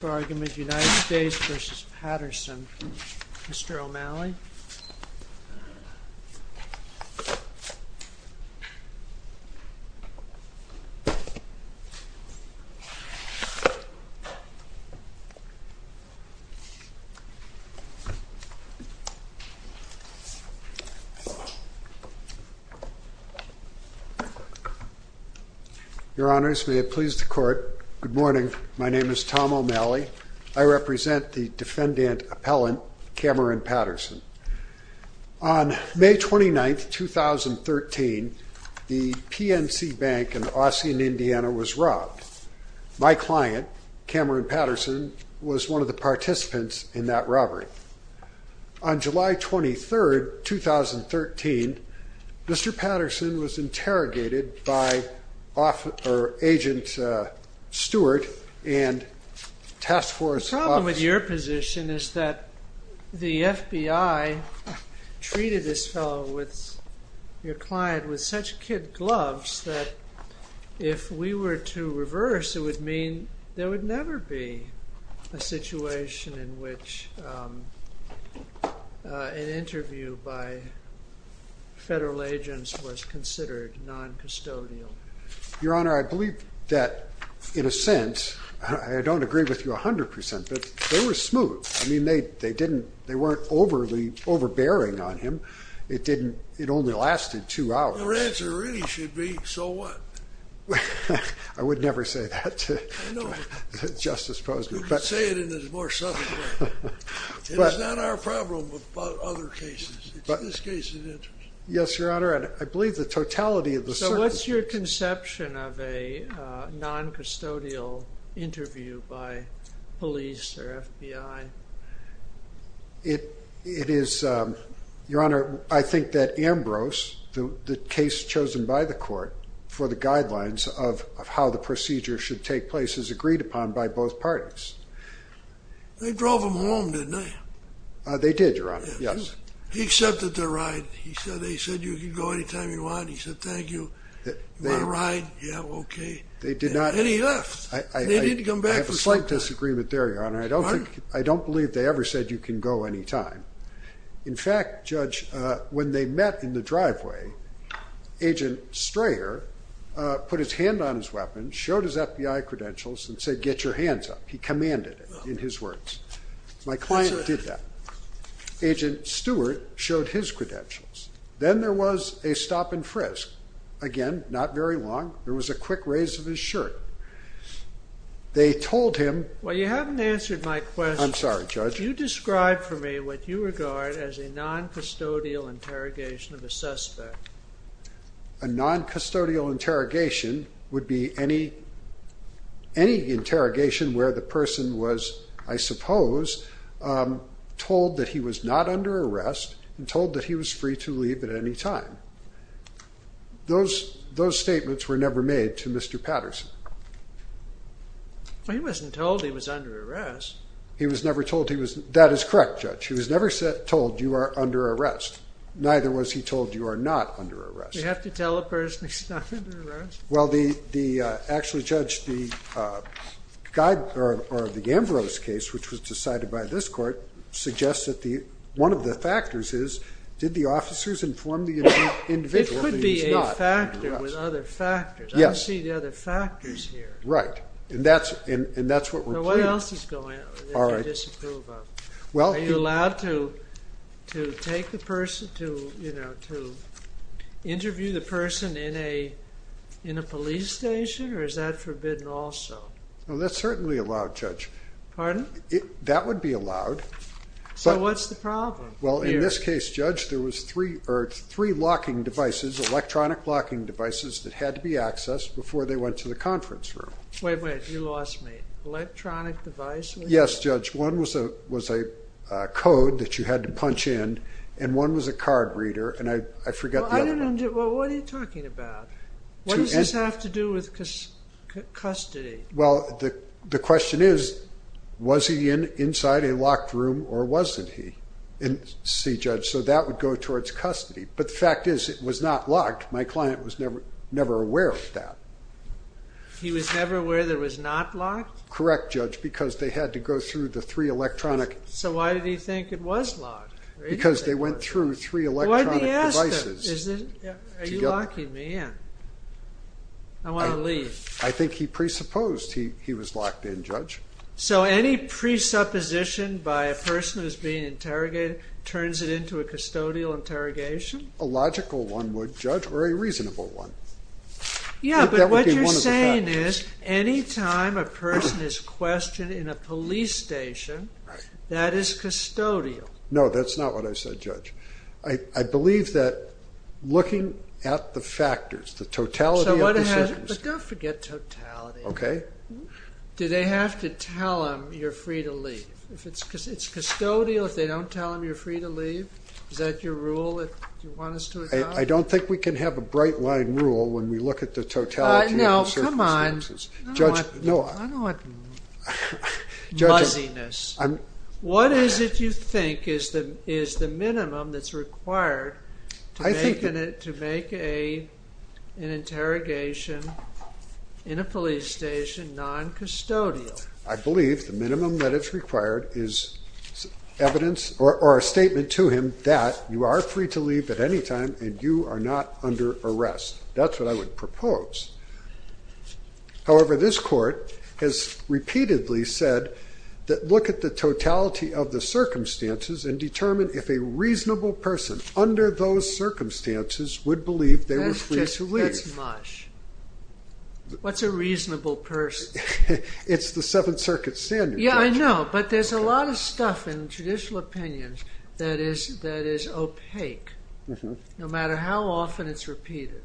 United States v. Patterson. Mr. O'Malley. Good morning. My name is Tom O'Malley. I represent the Defendant Appellant Cameron Patterson. On May 29, 2013, the PNC Bank in Austin, Indiana was robbed. My client, Cameron Patterson, was one of the participants in that robbery. On July 23, 2013, Mr. Patterson was interrogated by Agent Stewart. The problem with your position is that the FBI treated this fellow, your client, with such kid gloves that if we were to reverse it would mean there would be a charge against him. The FBI did not treat Mr. Patterson as a kid glove. The FBI did not treat Mr. Patterson as a kid glove. The FBI did not treat Mr. Patterson as a kid glove. So what's your conception of a non-custodial interview by police or FBI? It is, Your Honor, I think that Ambrose, the case chosen by the court for the guidelines of how the procedure should take place is agreed upon by both parties. They drove him home, didn't they? They did, Your Honor, yes. He accepted their ride. He said, they said you can go anytime you want. He said, thank you. You want a ride? Yeah, okay. They did not... And he left. They didn't come back for some time. I have a slight disagreement there, Your Honor. I don't believe they ever said you can go anytime. In fact, Judge, when they met in the driveway, Agent Strayer put his hand on his weapon, showed his FBI credentials. Then there was a stop and frisk. Again, not very long. There was a quick raise of his shirt. They told him... Well, you haven't answered my question. I'm sorry, Judge. You described for me what you regard as a non-custodial interrogation of a suspect. A non-custodial interrogation would be any interrogation where the person was, I suppose, told that he was not under arrest and told that he was free to leave at any time. Those statements were never made to Mr. Patterson. He wasn't told he was under arrest. He was never told he was... That is correct, Judge. He was never told you are under arrest. Neither was he told you are not under arrest. We have to tell a person he's not under arrest? Actually, Judge, the Ambrose case, which was decided by this court, suggests that one of the factors is, did the officers inform the individual that he was not under arrest? It could be a factor with other factors. I don't see the other factors here. What else is going on that you disapprove of? Are you allowed to interview the person in a police station, or is that forbidden also? That's certainly allowed, Judge. Pardon? That would be allowed. So what's the problem? In this case, Judge, there were three locking devices, electronic locking devices, that had to be accessed before they went to the conference room. Wait, wait. You lost me. Electronic device? Yes, Judge. One was a code that you had to punch in, and one was a card reader, and I forgot the other one. Well, what are you talking about? What does this have to do with custody? Well, the question is, was he inside a locked room, or wasn't he? See, Judge, so that would go towards custody. But the fact is, it was not locked. My client was never aware of that. He was never aware that it was not locked? Correct, Judge, because they had to go through the three electronic... So why did he think it was locked? Because they went through three electronic devices. Why didn't he ask them? Are you locking me in? I want to leave. I think he presupposed he was locked in, Judge. So any presupposition by a person who's being interrogated turns it into a custodial interrogation? A logical one would, Judge, or a reasonable one. Yeah, but what you're saying is, any time a person is questioned in a police station, that is custodial. No, that's not what I said, Judge. I believe that looking at the factors, the totality of decisions... But don't forget totality. Okay. Do they have to tell him, you're free to leave? Because it's custodial if they don't tell him you're free to leave? Is that your rule? Do you want us to adopt it? I don't think we can have a bright-line rule when we look at the totality of the circumstances. No, come on. I don't want muzziness. What is it you think is the minimum that's required to make an interrogation in a police station non-custodial? I believe the minimum that is required is evidence or a statement to him that you are free to leave at any time and you are not under arrest. That's what I would propose. However, this court has repeatedly said that look at the totality of the circumstances and determine if a reasonable person under those circumstances would believe they were free to leave. That's mush. What's a reasonable person? It's the Seventh Circuit standard. Yeah, I know. But there's a lot of stuff in judicial opinions that is opaque no matter how often it's repeated.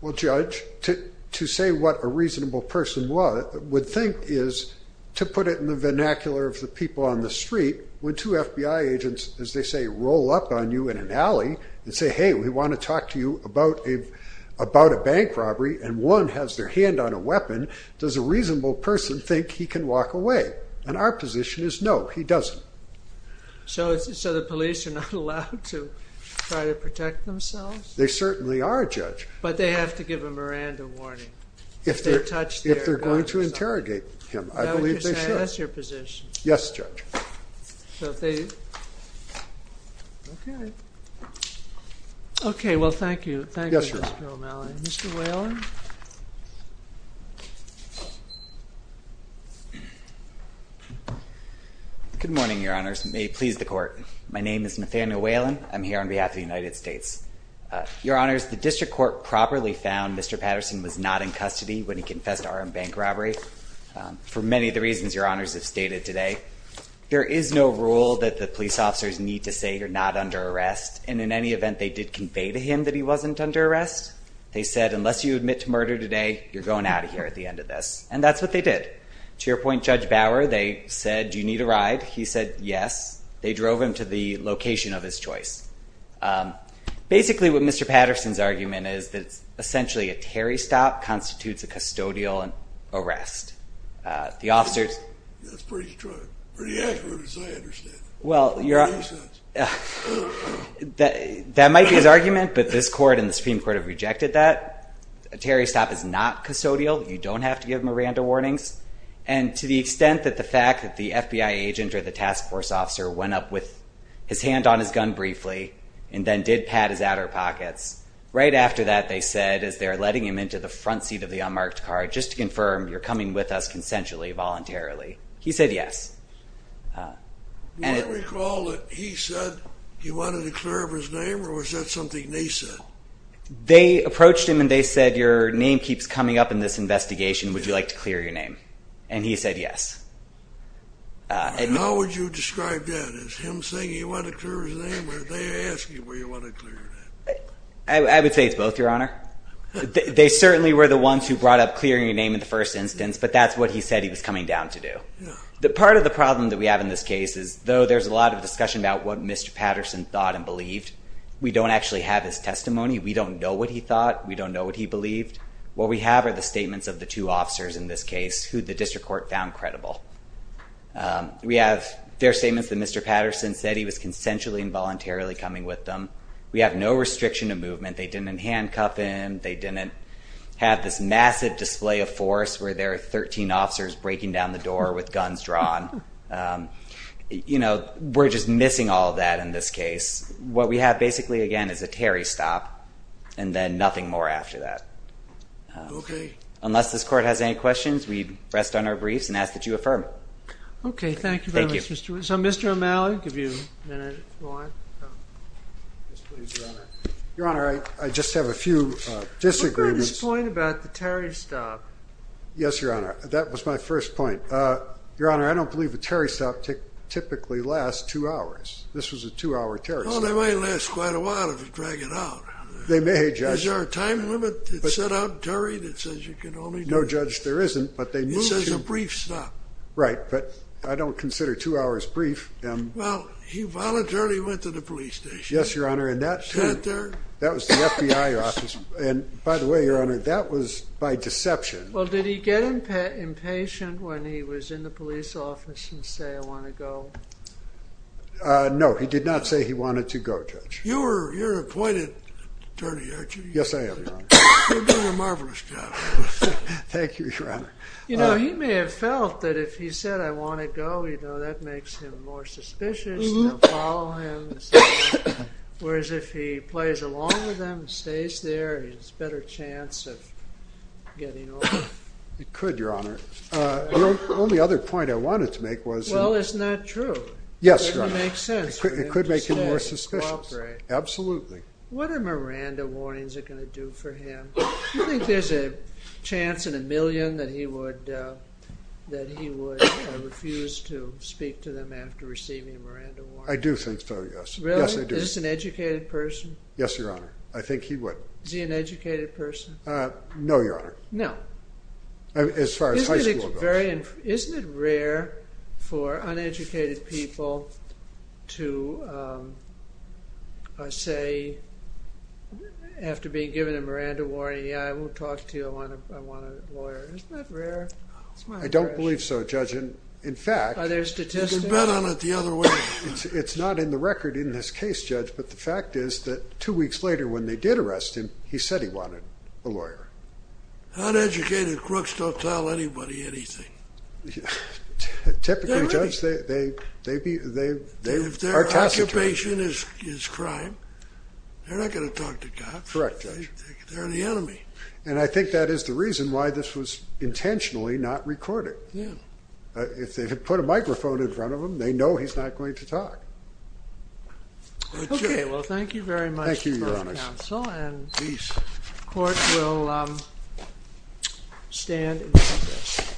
Well, Judge, to say what a reasonable person would think is to put it in the vernacular of the people on the street. When two FBI agents, as they say, roll up on you in an alley and say, hey, we want to talk to you about a bank robbery and one has their hand on a weapon, does a reasonable person think he can walk away? And our position is no, he doesn't. So the police are not allowed to try to protect themselves? They certainly are, Judge. But they have to give a Miranda warning if they touch their gun. If they're going to interrogate him, I believe they should. That's your position. Yes, Judge. Okay. Okay, well, thank you. Thank you, Mr. O'Malley. Mr. Whalen? Good morning, Your Honors. May it please the Court. My name is Nathaniel Whalen. I'm here on behalf of the United States. Your Honors, the District Court properly found Mr. Patterson was not in custody when he confessed to an armed bank robbery for many of the reasons Your Honors have stated today. There is no rule that the police officers need to say you're not under arrest. And in any event, they did convey to him that he wasn't under arrest. They said, unless you admit to murder today, you're going out of here at the end of this. And that's what they did. To your point, Judge Bauer, they said, do you need a ride? He said, yes. They drove him to the location of his choice. Basically, what Mr. Patterson's argument is that essentially a Terry stop constitutes a custodial arrest. The officers... That's pretty strong. Pretty accurate as I understand it. Well, Your Honors... Makes sense. That might be his argument, but this court and the Supreme Court have rejected that. A Terry stop is not custodial. You don't have to give Miranda warnings. And to the extent that the fact that the FBI agent or the task force officer went up with his hand on his gun briefly and then did pat his outer pockets. Right after that, they said, as they're letting him into the front seat of the unmarked car, just to confirm you're coming with us consensually, voluntarily. He said, yes. Do I recall that he said he wanted to clear up his name, or was that something they said? They approached him and they said, your name keeps coming up in this investigation. Would you like to clear your name? And he said, yes. And how would you describe that? Is him saying he wanted to clear his name, or did they ask you where you wanted to clear your name? I would say it's both, Your Honor. They certainly were the ones who brought up clearing your name in the first instance, but that's what he said he was coming down to do. Part of the problem that we have in this case is, though there's a lot of discussion about what Mr. Patterson thought and believed, we don't actually have his testimony. We don't know what he thought. We don't know what he believed. What we have are the statements of the two officers in this case who the district court found credible. We have their statements that Mr. Patterson said he was consensually and voluntarily coming with them. We have no restriction of movement. They didn't handcuff him. They didn't have this massive display of force where there are 13 officers breaking down the door with guns drawn. You know, we're just missing all that in this case. What we have, basically, again, is a Terry stop and then nothing more after that. Okay. Unless this Court has any questions, we rest on our briefs and ask that you affirm. Okay. Thank you very much. So, Mr. O'Malley, give you a minute if you want. Yes, please, Your Honor. Your Honor, I just have a few disagreements. What about his point about the Terry stop? Yes, Your Honor. That was my first point. Your Honor, I don't believe a Terry stop typically lasts two hours. This was a two-hour Terry stop. Well, they might last quite a while if you drag it out. They may, Judge. Is there a time limit that's set out in Terry that says you can only do this? No, Judge, there isn't, but they move to- He says a brief stop. Right, but I don't consider two hours brief. Well, he voluntarily went to the police station. Yes, Your Honor, and that too. He sat there. That was the FBI office. And, by the way, Your Honor, that was by deception. Well, did he get impatient when he was in the police office and say, I want to go? No, he did not say he wanted to go, Judge. You're an acquainted attorney, aren't you? Yes, I am, Your Honor. You're doing a marvelous job. Thank you, Your Honor. You know, he may have felt that if he said, I want to go, you know, that makes him more suspicious, and they'll follow him, whereas if he plays along with them and stays there, he has a better chance of getting away. He could, Your Honor. The only other point I wanted to make was- Well, isn't that true? Yes, Your Honor. It would make sense for him to stay and cooperate. It could make him more suspicious. Absolutely. What are Miranda warnings are going to do for him? Do you think there's a chance in a million that he would refuse to speak to them after receiving a Miranda warning? I do think so, yes. Really? Yes, I do. Is this an educated person? Yes, Your Honor. I think he would. Is he an educated person? No, Your Honor. No. As far as high school goes. Isn't it rare for uneducated people to say after being given a Miranda warning, yeah, I won't talk to you, I want a lawyer. Isn't that rare? I don't believe so, Judge. In fact- Are there statistics? You can bet on it the other way. It's not in the record in this case, Judge, but the fact is that two weeks later when they did arrest him, he said he wanted a lawyer. Uneducated crooks don't tell anybody anything. Typically, Judge, they are taciturn. If their occupation is crime, they're not going to talk to cops. Correct, Judge. They're the enemy. And I think that is the reason why this was intentionally not recorded. Yeah. If they had put a microphone in front of him, they know he's not going to talk. Okay, well, thank you very much- Thank you, Your Honor. Thank you, counsel, and the court will stand in front of this.